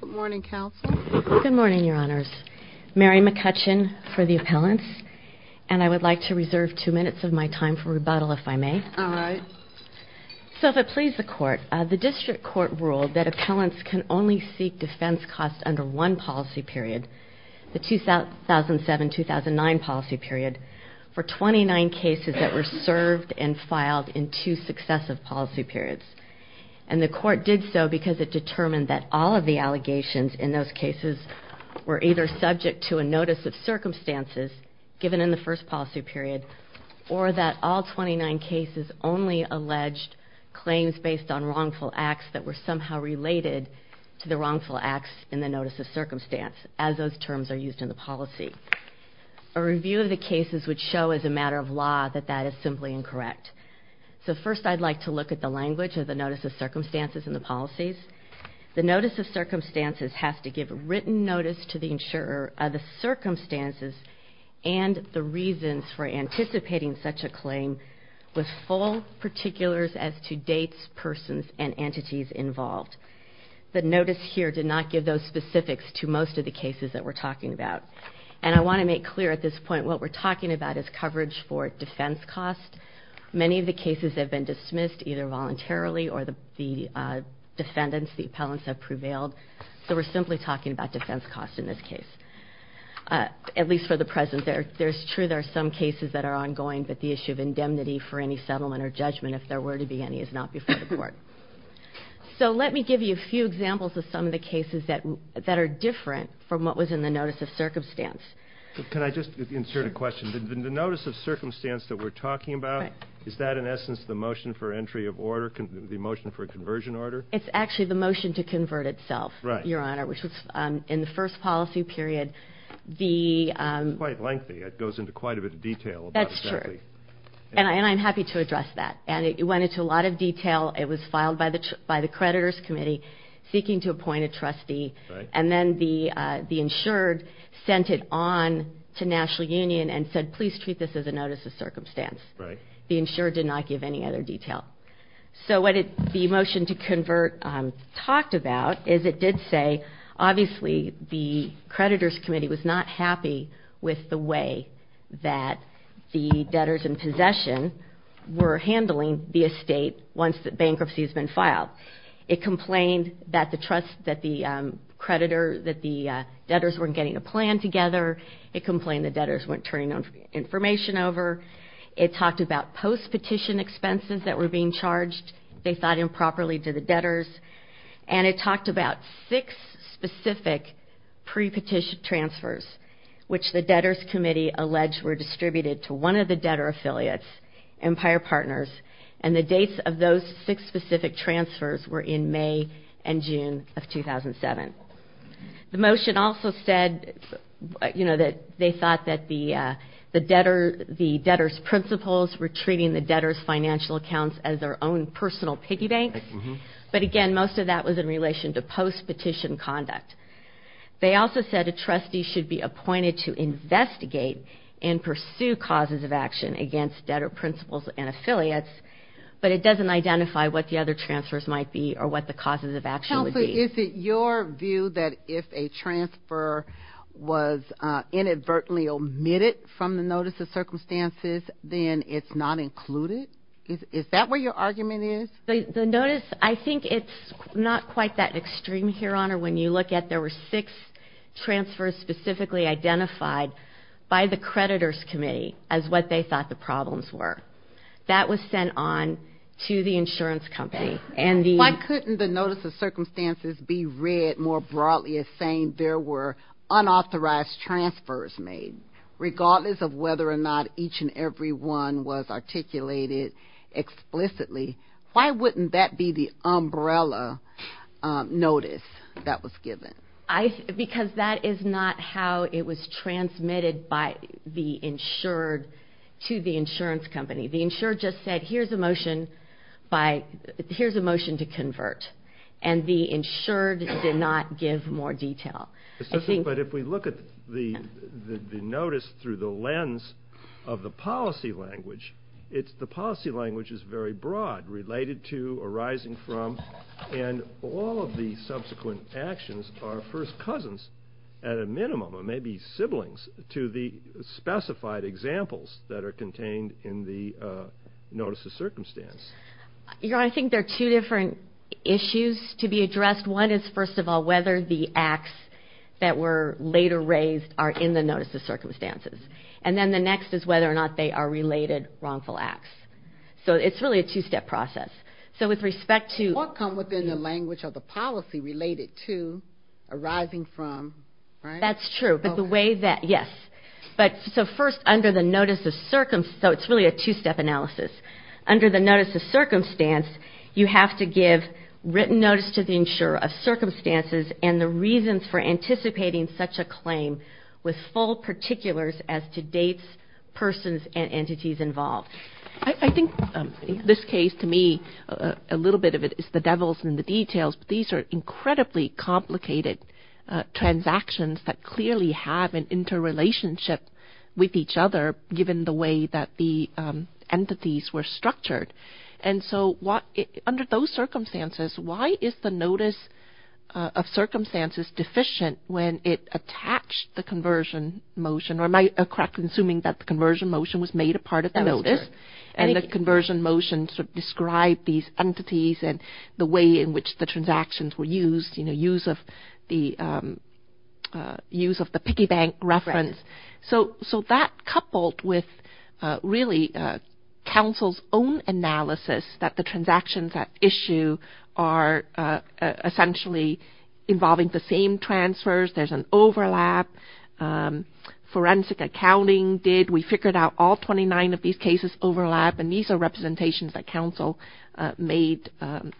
Good morning, Counsel. Good morning, Your Honors. Mary McCutcheon for the appellants, and I would like to reserve two minutes of my time for rebuttal if I may. All right. So if it pleases the Court, the District Court ruled that appellants can only seek defense costs under one policy period, the 2007-2009 policy period, for 29 cases that were served and filed in two successive policy periods. And the Court did so because it determined that all of the allegations in those cases were either subject to a notice of circumstances given in the first policy period, or that all 29 cases only alleged claims based on wrongful acts that were somehow related to the wrongful acts in the notice of circumstance, as those terms are used in the policy. A review of the cases would show as a matter of law that that is simply incorrect. So first I'd like to look at the language of the notice of circumstances and the policies. The notice of circumstances has to give written notice to the insurer of the circumstances and the reasons for anticipating such a claim with full particulars as to dates, persons, and entities involved. The notice here did not give those specifics to most of the cases that we're talking about. And I want to make clear at this point what we're talking about is coverage for either voluntarily or the defendants, the appellants have prevailed. So we're simply talking about defense costs in this case. At least for the present, there's true there are some cases that are ongoing, but the issue of indemnity for any settlement or judgment, if there were to be any, is not before the Court. So let me give you a few examples of some of the cases that are different from what was in the notice of circumstance. Can I just insert a question? The notice of circumstance that we're talking about, is that in the motion for a conversion order? It's actually the motion to convert itself, Your Honor, which was in the first policy period. It's quite lengthy. It goes into quite a bit of detail. That's true. And I'm happy to address that. And it went into a lot of detail. It was filed by the creditors committee, seeking to appoint a trustee. And then the insured sent it on to National Union and said, please treat this as a notice of circumstance. The insured did not give any other detail. So what the motion to convert talked about is it did say, obviously, the creditors committee was not happy with the way that the debtors in possession were handling the estate once the bankruptcy has been filed. It complained that the debtors weren't getting a plan together. It complained the debtors weren't turning information over. It complained the expenses that were being charged, they thought improperly to the debtors. And it talked about six specific pre-petition transfers, which the debtors committee alleged were distributed to one of the debtor affiliates, Empire Partners. And the dates of those six specific transfers were in May and June of 2007. The motion also said, you know, that they thought that the debtors principals were treating the debtors financial accounts as their own personal piggy banks. But again, most of that was in relation to post-petition conduct. They also said a trustee should be appointed to investigate and pursue causes of action against debtor principals and affiliates, but it doesn't identify what the other transfers might be or what the causes of action would be. Counsel, is it your view that if a transfer was inadvertently omitted from the Notice of Circumstances, then it's not included? Is that where your argument is? The notice, I think it's not quite that extreme here, Honor. When you look at there were six transfers specifically identified by the creditors committee as what they thought the problems were. That was sent on to the insurance company. Why couldn't the Notice of Circumstances be read more whether or not each and every one was articulated explicitly? Why wouldn't that be the umbrella notice that was given? Because that is not how it was transmitted by the insured to the insurance company. The insured just said here's a motion to convert, and the insured did not give more of the policy language. The policy language is very broad, related to, arising from, and all of the subsequent actions are first cousins at a minimum, or maybe siblings, to the specified examples that are contained in the Notice of Circumstances. Your Honor, I think there are two different issues to be addressed. One is, first of all, whether the acts that were later raised are in the Notice of Circumstances, and then the next is whether or not they are related wrongful acts. So it's really a two-step process. So with respect to... What come within the language of the policy related to, arising from, right? That's true, but the way that, yes, but so first under the Notice of Circumstance, so it's really a two-step analysis. Under the Notice of Circumstance, you have to give written notice to the insurer of circumstances and the reasons for full particulars as to dates, persons, and entities involved. I think in this case, to me, a little bit of it is the devils in the details, but these are incredibly complicated transactions that clearly have an interrelationship with each other, given the way that the entities were structured. And so under those circumstances, why is the Notice of Circumstances, or am I correct in assuming that the conversion motion was made a part of the notice, and the conversion motion described these entities and the way in which the transactions were used, you know, use of the piggy bank reference. So that coupled with, really, counsel's own analysis that the transactions at issue are essentially involving the same transfers, there's an forensic accounting did, we figured out all 29 of these cases overlap, and these are representations that counsel made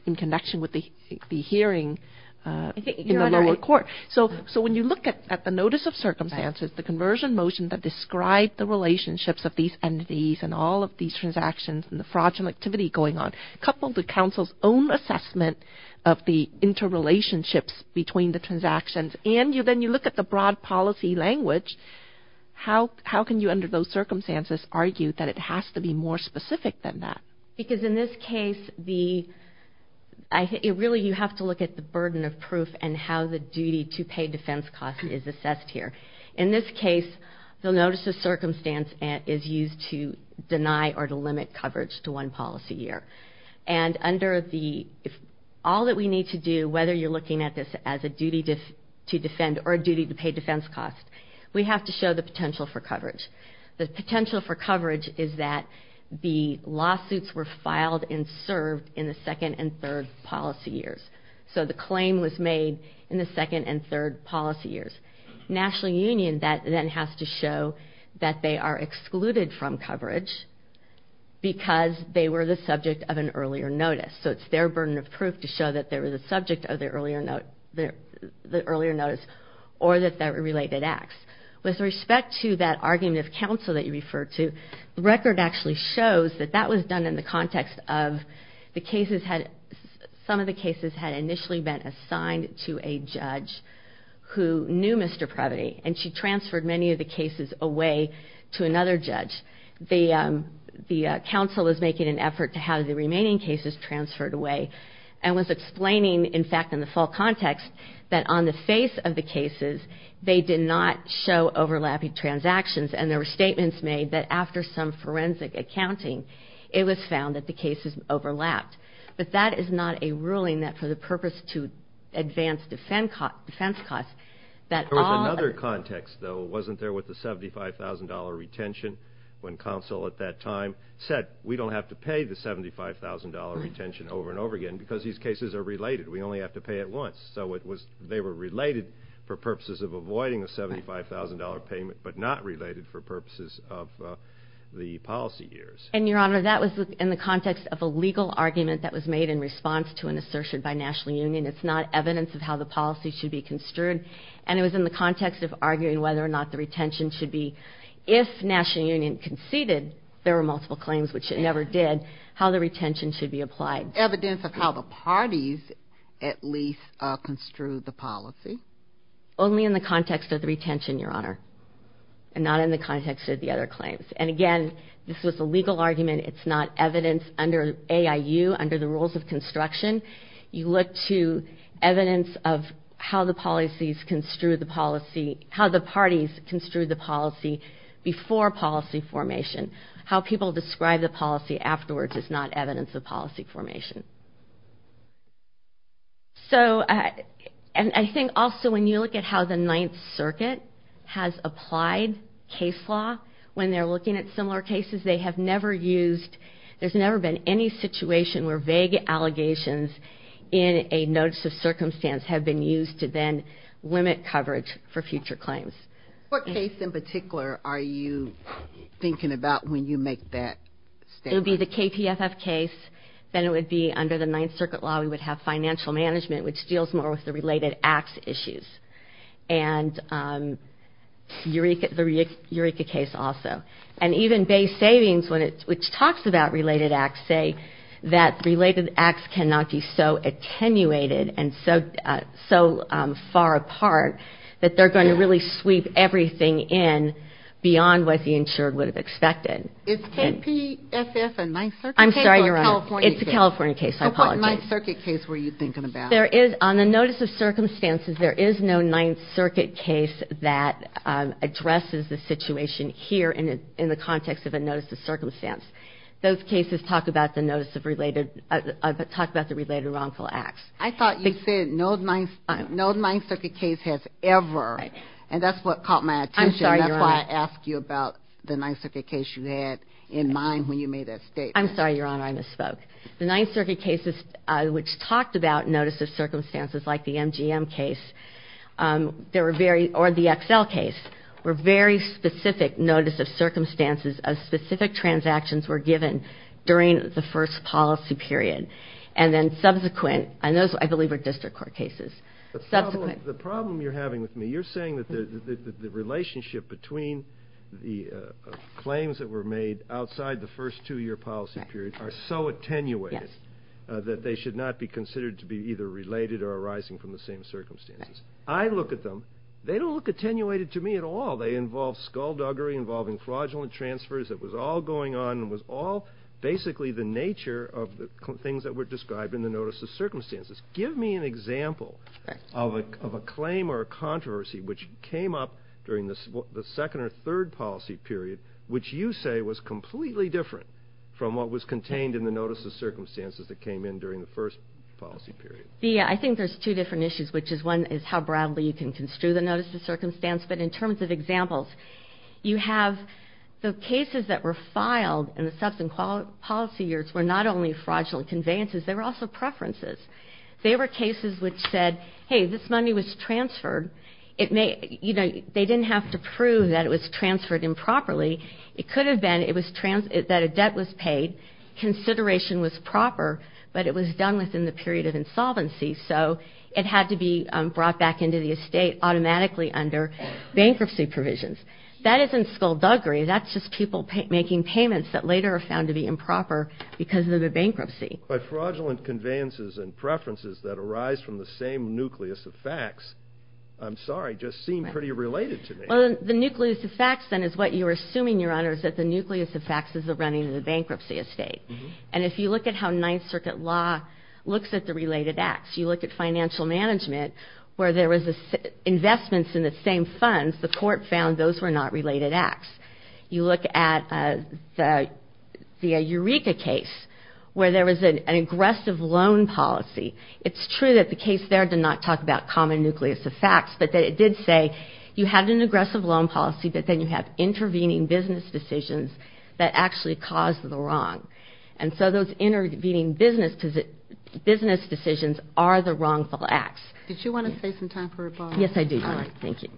in connection with the hearing in the lower court. So when you look at the Notice of Circumstances, the conversion motion that described the relationships of these entities and all of these transactions and the fraudulent activity going on, coupled with counsel's own assessment of the interrelationships between the transactions, and then you look at the broad policy language, how can you, under those circumstances, argue that it has to be more specific than that? Because in this case, really you have to look at the burden of proof and how the duty to pay defense costs is assessed here. In this case, the Notice of Circumstances is used to deny or to limit coverage to one policy year. And all that we need to do, whether you're looking at this as a duty to defend or a duty to pay defense cost, we have to show the potential for coverage. The potential for coverage is that the lawsuits were filed and served in the second and third policy years. So the claim was made in the second and third policy years. National Union, that then has to show that they are excluded from coverage because they were the subject of an earlier notice. So it's their burden of proof to show that they were the subject of the earlier notice or that they were related acts. With respect to that argument of counsel that you referred to, the record actually shows that that was done in the context of the cases had, some of the cases had initially been assigned to a judge who knew Mr. Previty, and she transferred many of the cases away to another judge. The counsel is making an effort to have the remaining cases transferred away, and was explaining, in fact, in the full context, that on the face of the cases, they did not show overlapping transactions. And there were statements made that after some forensic accounting, it was found that the cases overlapped. But that is not a ruling that for the purpose to advance defense costs, that all... There was another context, though. It wasn't there with the $75,000 retention, when counsel at that time said, we don't have to pay the $75,000 retention over and over again, because these cases are related. We only have to pay it once. So it was... They were related for purposes of avoiding the $75,000 payment, but not related for purposes of the policy years. And, Your Honor, that was in the context of a legal argument that was made in response to an assertion by National Union. It's not evidence of how the policy should be construed, and it was in the context of arguing whether or not the retention should be... If National Union conceded, there were multiple claims, which it never did, how the retention should be applied. Evidence of how the parties at least construed the policy? Only in the context of the retention, Your Honor, and not in the context of the other claims. And again, this was a legal argument. It's not evidence under AIU, under the rules of construction. You look to evidence of how the policies construed the policy, how the parties construed the policy before policy formation. How people describe the policy afterwards is not evidence of policy formation. So, and I think also when you look at how the Ninth Circuit has applied case law when they're looking at similar cases, they have never used... There's never been any situation where vague allegations in a notice of circumstance have been used to then limit coverage for future claims. What case in particular are you thinking about when you make that statement? It would be the KPFF case. Then it would be under the Ninth Circuit law, we would have financial management, which deals more with the related acts issues. And Eureka, the Eureka case also. And even base savings, which talks about related acts, say that related acts cannot be so attenuated and so far apart that they're going to really sweep everything in beyond what the insured would have expected. Is KPFF a Ninth Circuit case? I'm sorry, Your Honor, it's a California case. I apologize. So what Ninth Circuit case were you thinking about? There is, on the notice of circumstances, there is no Ninth Circuit case that addresses the situation here in the context of a notice of circumstance. Those cases talk about the notice of related, talk about the related wrongful acts. I thought you said no Ninth Circuit case has ever, and that's what caught my attention, and that's why I asked you about the Ninth Circuit case you had in mind when you made that statement. I'm sorry, Your Honor, I misspoke. The Ninth Circuit cases which talked about notice of circumstances, like the MGM case, or the XL case, were very specific notice of circumstances of specific transactions were given during the first policy period. And then subsequent, and those I believe are district court cases. The problem you're having with me, you're saying that the relationship between the claims that were made outside the first two-year policy period are so attenuated that they should not be considered to be either related or arising from the same circumstances. I look at them, they don't look attenuated to me at all. They involve skullduggery, involving fraudulent transfers, it was all going on, it was all basically the nature of the things that were described in the notice of circumstances. Give me an example of a claim or a controversy which came up during the second or third policy period which you say was completely different from what was contained in the notice of circumstances that came in during the first policy period. I think there's two different issues, which is one is how broadly you can construe the notice of circumstance, but in terms of examples, you have the cases that were filed in the subsequent policy years were not only fraudulent conveyances, they were also preferences. They were cases which said, hey, this money was transferred, they didn't have to prove that it was transferred improperly, it could have been that a debt was paid, consideration was proper, but it was done within the period of insolvency, so it had to be brought back into the estate automatically under bankruptcy provisions. That isn't skullduggery, that's just people making payments that later are found to be improper because of the bankruptcy. But fraudulent conveyances and preferences that arise from the same nucleus of facts, I'm sorry, just seem pretty related to me. Well, the nucleus of facts then is what you're assuming, Your Honor, is that the nucleus of facts is the running of the bankruptcy estate. And if you look at how Ninth Circuit law looks at the related acts, you look at financial management where there was investments in the same funds, the court found those were not related acts. You look at the Eureka case where there was an aggressive loan policy. It's true that the case there did not talk about common nucleus of facts, but it did say you had an aggressive loan policy, but then you have intervening business decisions that actually caused the wrong. And so those intervening business decisions are the wrongful acts. Did you want to save some time for rebuttal? Yes, I do, Your Honor. Thank you.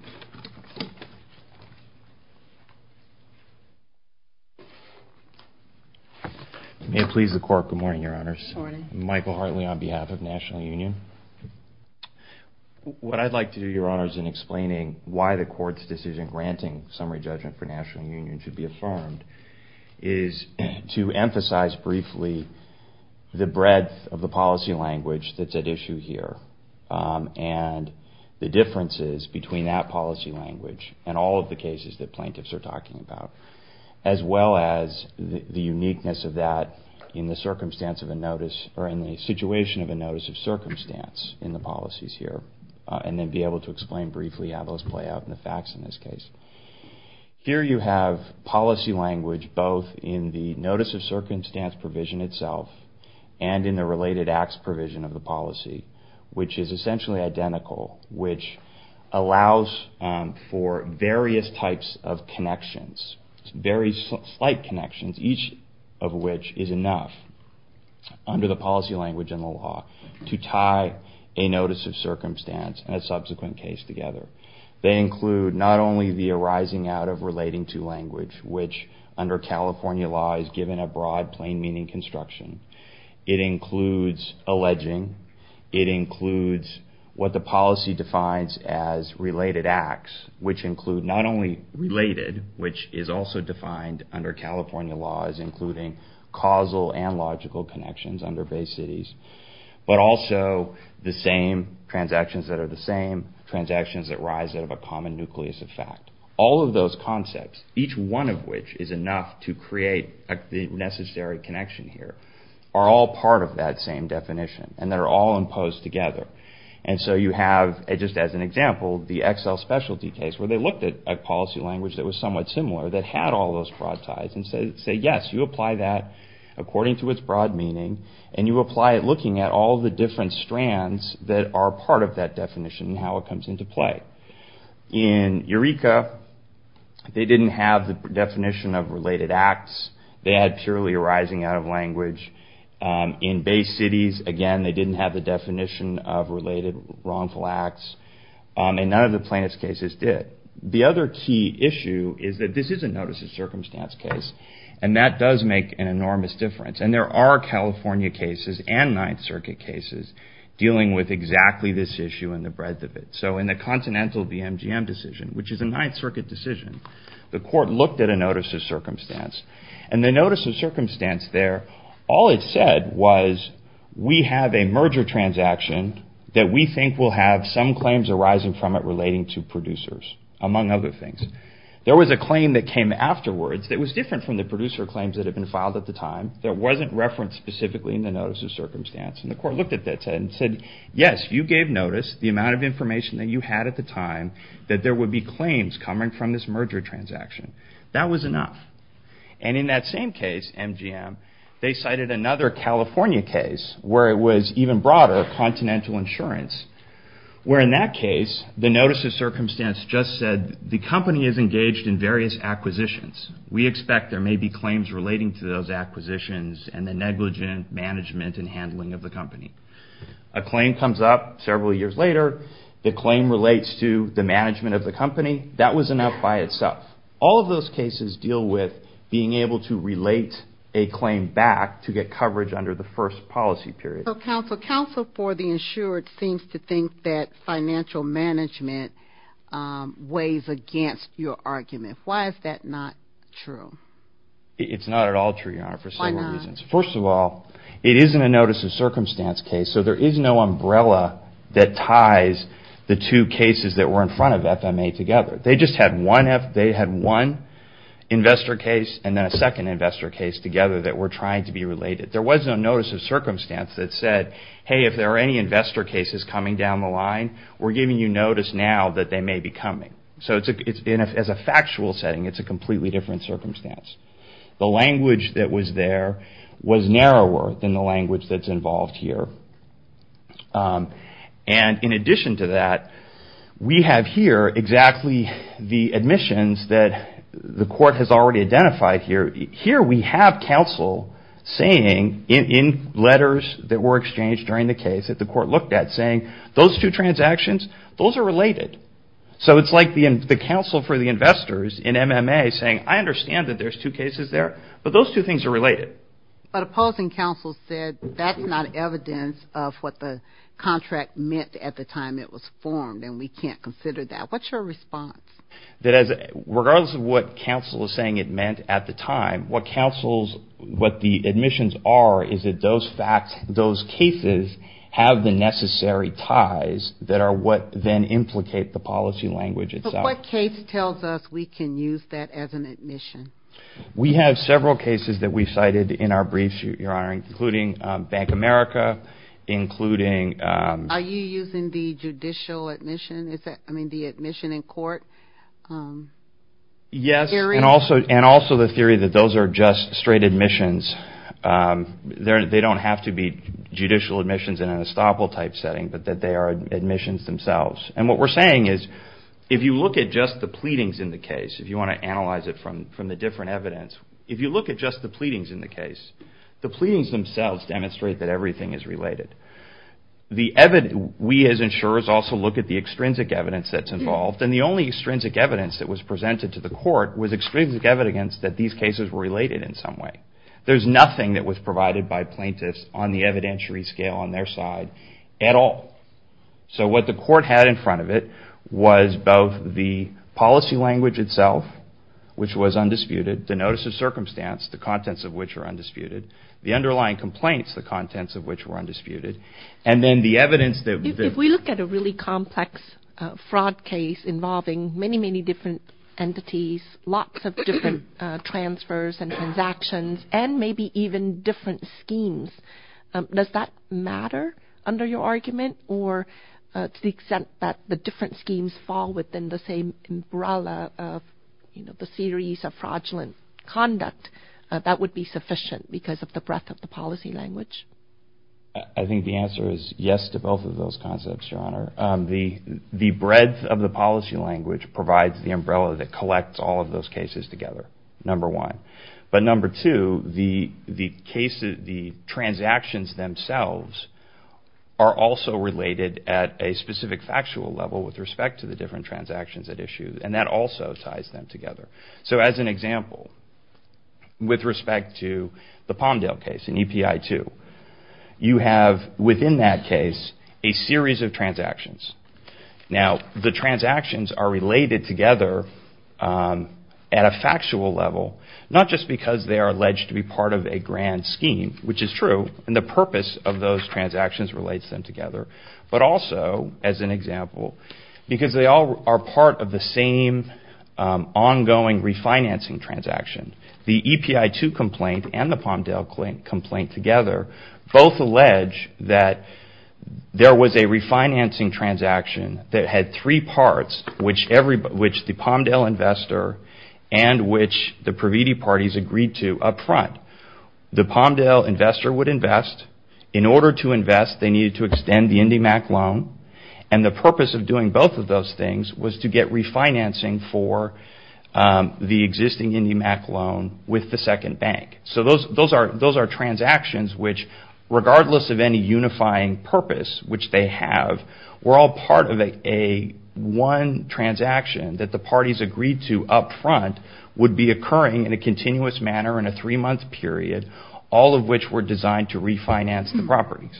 May it please the Court. Good morning, Your Honors. Good morning. Michael Hartley on behalf of National Union. What I'd like to do, Your Honors, in explaining why the Court's decision granting summary judgment for National Union should be affirmed is to emphasize briefly the breadth of the policy language that's at issue here. And the differences between that policy language and all of the cases that plaintiffs are talking about. As well as the uniqueness of that in the circumstance of a notice or in the situation of a notice of circumstance in the policies here. And then be able to explain briefly how those play out in the facts in this case. Here you have policy language both in the notice of circumstance provision itself and in the related acts provision of the policy. Which is essentially identical, which allows for various types of connections. Very slight connections, each of which is enough under the policy language and the law to tie a notice of circumstance and a subsequent case together. They include not only the arising out of relating to language, which under California law is given a broad plain meaning construction. It includes alleging. It includes what the policy defines as related acts, which include not only related, which is also defined under California law as including causal and logical connections under base cities. But also the same transactions that are the same transactions that rise out of a common nucleus of fact. All of those concepts, each one of which is enough to create the necessary connection here, are all part of that same definition. And they're all imposed together. And so you have, just as an example, the Excel specialty case where they looked at a policy language that was somewhat similar that had all those broad ties. And say, yes, you apply that according to its broad meaning. And you apply it looking at all the different strands that are part of that definition and how it comes into play. In Eureka, they didn't have the definition of related acts. They had purely arising out of language. In base cities, again, they didn't have the definition of related wrongful acts. And none of the plaintiff's cases did. The other key issue is that this is a notice of circumstance case. And that does make an enormous difference. And there are California cases and Ninth Circuit cases dealing with exactly this issue and the breadth of it. So in the Continental BMGM decision, which is a Ninth Circuit decision, the court looked at a notice of circumstance. And the notice of circumstance there, all it said was we have a merger transaction that we think will have some claims arising from it relating to producers, among other things. There was a claim that came afterwards that was different from the producer claims that had been filed at the time. That wasn't referenced specifically in the notice of circumstance. And the court looked at that and said, yes, you gave notice, the amount of information that you had at the time, that there would be claims coming from this merger transaction. That was enough. And in that same case, MGM, they cited another California case where it was even broader, Continental Insurance, where in that case the notice of circumstance just said the company is engaged in various acquisitions. We expect there may be claims relating to those acquisitions and the negligent management and handling of the company. A claim comes up several years later. The claim relates to the management of the company. That was enough by itself. All of those cases deal with being able to relate a claim back to get coverage under the first policy period. So, counsel, counsel for the insured seems to think that financial management weighs against your argument. Why is that not true? It's not at all true, Your Honor, for several reasons. Why not? First of all, it is in a notice of circumstance case, so there is no umbrella that ties the two cases that were in front of FMA together. They just had one investor case and then a second investor case together that were trying to be related. There was no notice of circumstance that said, hey, if there are any investor cases coming down the line, we're giving you notice now that they may be coming. So as a factual setting, it's a completely different circumstance. The language that was there was narrower than the language that's involved here. And in addition to that, we have here exactly the admissions that the court has already identified here. Here we have counsel saying in letters that were exchanged during the case that the court looked at saying, those two transactions, those are related. So it's like the counsel for the investors in MMA saying, I understand that there's two cases there, but those two things are related. But opposing counsel said, that's not evidence of what the contract meant at the time it was formed, and we can't consider that. What's your response? Regardless of what counsel is saying it meant at the time, what the admissions are is that those cases have the necessary ties that are what then implicate the policy language itself. But what case tells us we can use that as an admission? We have several cases that we've cited in our briefs, Your Honor, including Bank America, including... Are you using the judicial admission, I mean the admission in court? Yes, and also the theory that those are just straight admissions. They don't have to be judicial admissions in an estoppel type setting, but that they are admissions themselves. And what we're saying is, if you look at just the pleadings in the case, if you want to analyze it from the different evidence, if you look at just the pleadings in the case, the pleadings themselves demonstrate that everything is related. We as insurers also look at the extrinsic evidence that's involved, and the only extrinsic evidence that was presented to the court was extrinsic evidence that these cases were related in some way. There's nothing that was provided by plaintiffs on the evidentiary scale on their side at all. So what the court had in front of it was both the policy language itself, which was undisputed, the notice of circumstance, the contents of which are undisputed, the underlying complaints, the contents of which were undisputed, and then the evidence that... If we look at a really complex fraud case involving many, many different entities, lots of different transfers and transactions, and maybe even different schemes, does that matter under your argument? Or to the extent that the different schemes fall within the same umbrella of the series of fraudulent conduct, that would be sufficient because of the breadth of the policy language? I think the answer is yes to both of those concepts, Your Honor. The breadth of the policy language provides the umbrella that collects all of those cases together, number one. But number two, the transactions themselves are also related at a specific factual level with respect to the different transactions at issue, and that also ties them together. So as an example, with respect to the Palmdale case in EPI 2, you have within that case a series of transactions. Now, the transactions are related together at a factual level, not just because they are alleged to be part of a grand scheme, which is true, and the purpose of those transactions relates them together, but also, as an example, because they all are part of the same ongoing refinancing transaction. The EPI 2 complaint and the Palmdale complaint together both allege that there was a refinancing transaction that had three parts, which the Palmdale investor and which the Praviti parties agreed to up front. The Palmdale investor would invest. In order to invest, they needed to extend the IndyMac loan, and the purpose of doing both of those things was to get refinancing for the existing IndyMac loan with the second bank. So those are transactions which, regardless of any unifying purpose which they have, were all part of one transaction that the parties agreed to up front would be occurring in a continuous manner in a three-month period, all of which were designed to refinance the properties.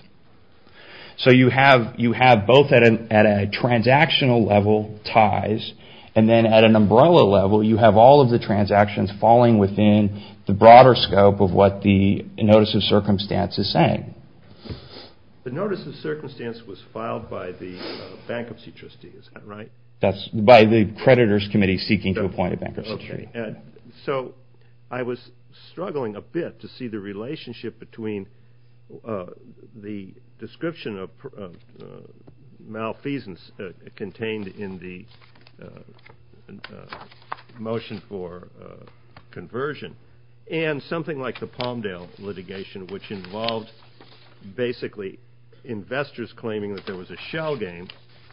So you have both at a transactional level ties, and then at an umbrella level, you have all of the transactions falling within the broader scope of what the Notice of Circumstance is saying. The Notice of Circumstance was filed by the Bankruptcy Trustees, right? That's by the Creditors Committee seeking to appoint a bankruptcy trustee. So I was struggling a bit to see the relationship between the description of malfeasance contained in the motion for conversion and something like the Palmdale litigation, which involved basically investors claiming that there was a shell game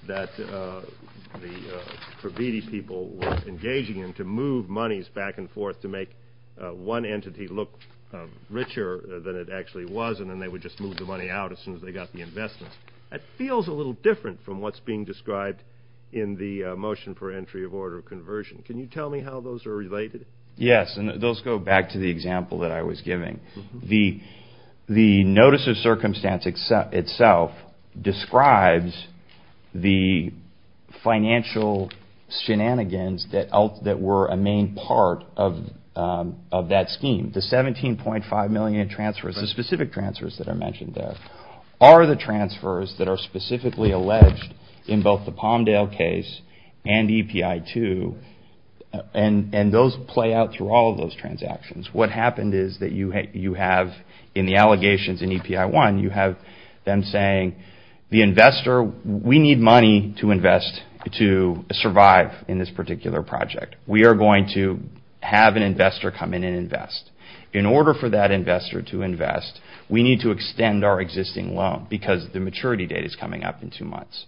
that the Corvitti people were engaging in to move monies back and forth to make one entity look richer than it actually was, and then they would just move the money out as soon as they got the investments. That feels a little different from what's being described in the motion for entry of order conversion. Can you tell me how those are related? Yes, and those go back to the example that I was giving. The Notice of Circumstance itself describes the financial shenanigans that were a main part of that scheme. The $17.5 million in transfers, the specific transfers that are mentioned there, are the transfers that are specifically alleged in both the Palmdale case and EPI-2, and those play out through all of those transactions. What happened is that you have, in the allegations in EPI-1, you have them saying, the investor, we need money to invest to survive in this particular project. We are going to have an investor come in and invest. In order for that investor to invest, we need to extend our existing loan because the maturity date is coming up in two months.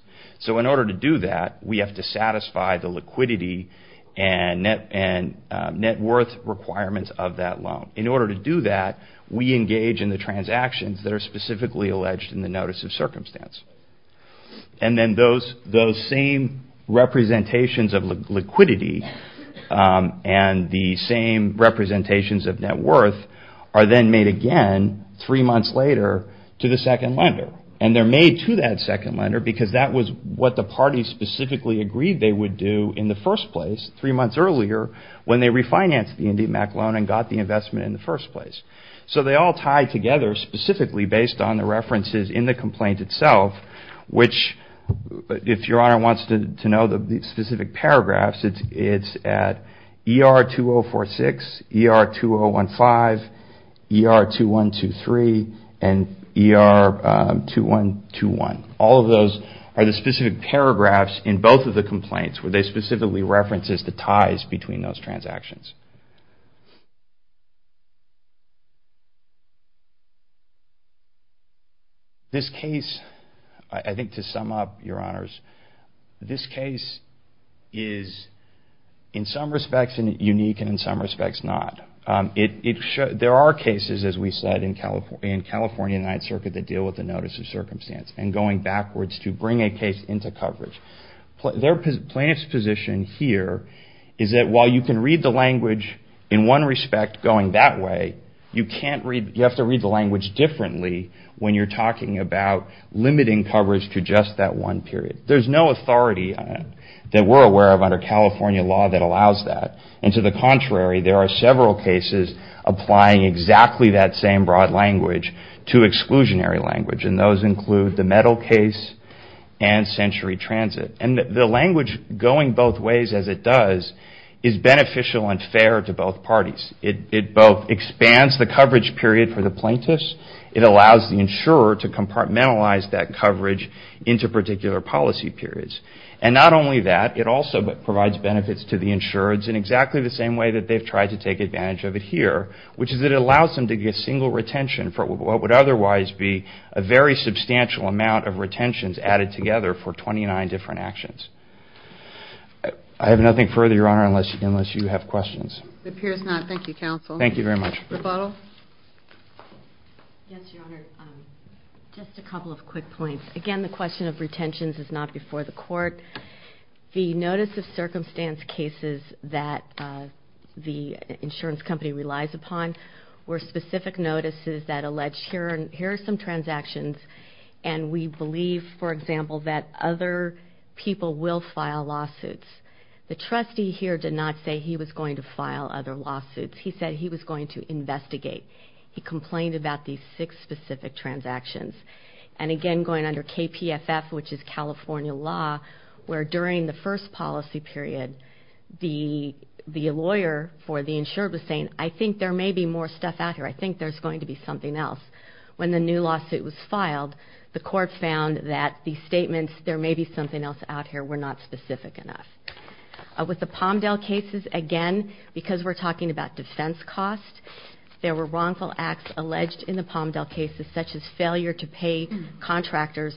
In order to do that, we have to satisfy the liquidity and net worth requirements of that loan. In order to do that, we engage in the transactions that are specifically alleged in the Notice of Circumstance. Then those same representations of liquidity and the same representations of net worth are then made again three months later to the second lender. They're made to that second lender because that was what the parties specifically agreed they would do in the first place, three months earlier, when they refinanced the IndyMac loan and got the investment in the first place. They all tie together specifically based on the references in the complaint itself, which if Your Honor wants to know the specific paragraphs, it's at ER-2046, ER-2015, ER-2123, and ER-2121. All of those are the specific paragraphs in both of the complaints where they specifically reference the ties between those transactions. This case, I think to sum up, Your Honors, this case is in some respects unique and in some respects not. There are cases, as we said, in California Ninth Circuit that deal with the Notice of Circumstance and going backwards to bring a case into coverage. Their plaintiff's position here is that while you can read the language in one respect going that way, you have to read the language differently when you're talking about limiting coverage to just that one period. There's no authority that we're aware of under California law that allows that. To the contrary, there are several cases applying exactly that same broad language to exclusionary language. Those include the Mettle case and Century Transit. The language going both ways as it does is beneficial and fair to both parties. It both expands the coverage period for the plaintiffs. It allows the insurer to compartmentalize that coverage into particular policy periods. Not only that, it also provides benefits to the insurers in exactly the same way that they've tried to take advantage of it here, which is it allows them to get single retention for what would otherwise be a very substantial amount of retentions added together for 29 different actions. I have nothing further, Your Honor, unless you have questions. It appears not. Thank you, Counsel. Thank you very much. Rebuttal? Yes, Your Honor. Just a couple of quick points. Again, the question of retentions is not before the court. The notice of circumstance cases that the insurance company relies upon were specific notices that alleged here are some transactions and we believe, for example, that other people will file lawsuits. The trustee here did not say he was going to file other lawsuits. He said he was going to investigate. He complained about these six specific transactions. And again, going under KPFF, which is California law, where during the first policy period, the lawyer for the insured was saying, I think there may be more stuff out here. I think there's going to be something else. When the new lawsuit was filed, the court found that the statements, there may be something else out here, were not specific enough. With the Palmdale cases, again, because we're talking about defense costs, there were wrongful acts alleged in the Palmdale cases, such as failure to pay contractors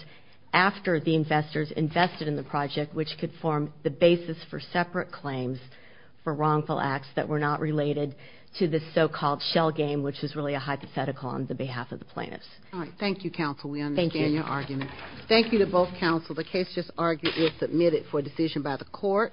after the investors invested in the project, which could form the basis for separate claims for wrongful acts that were not related to the so-called shell game, which is really a hypothetical on the behalf of the plaintiffs. All right. Thank you, counsel. We understand your argument. Thank you. Thank you to both counsel. The case just argued is submitted for decision by the court.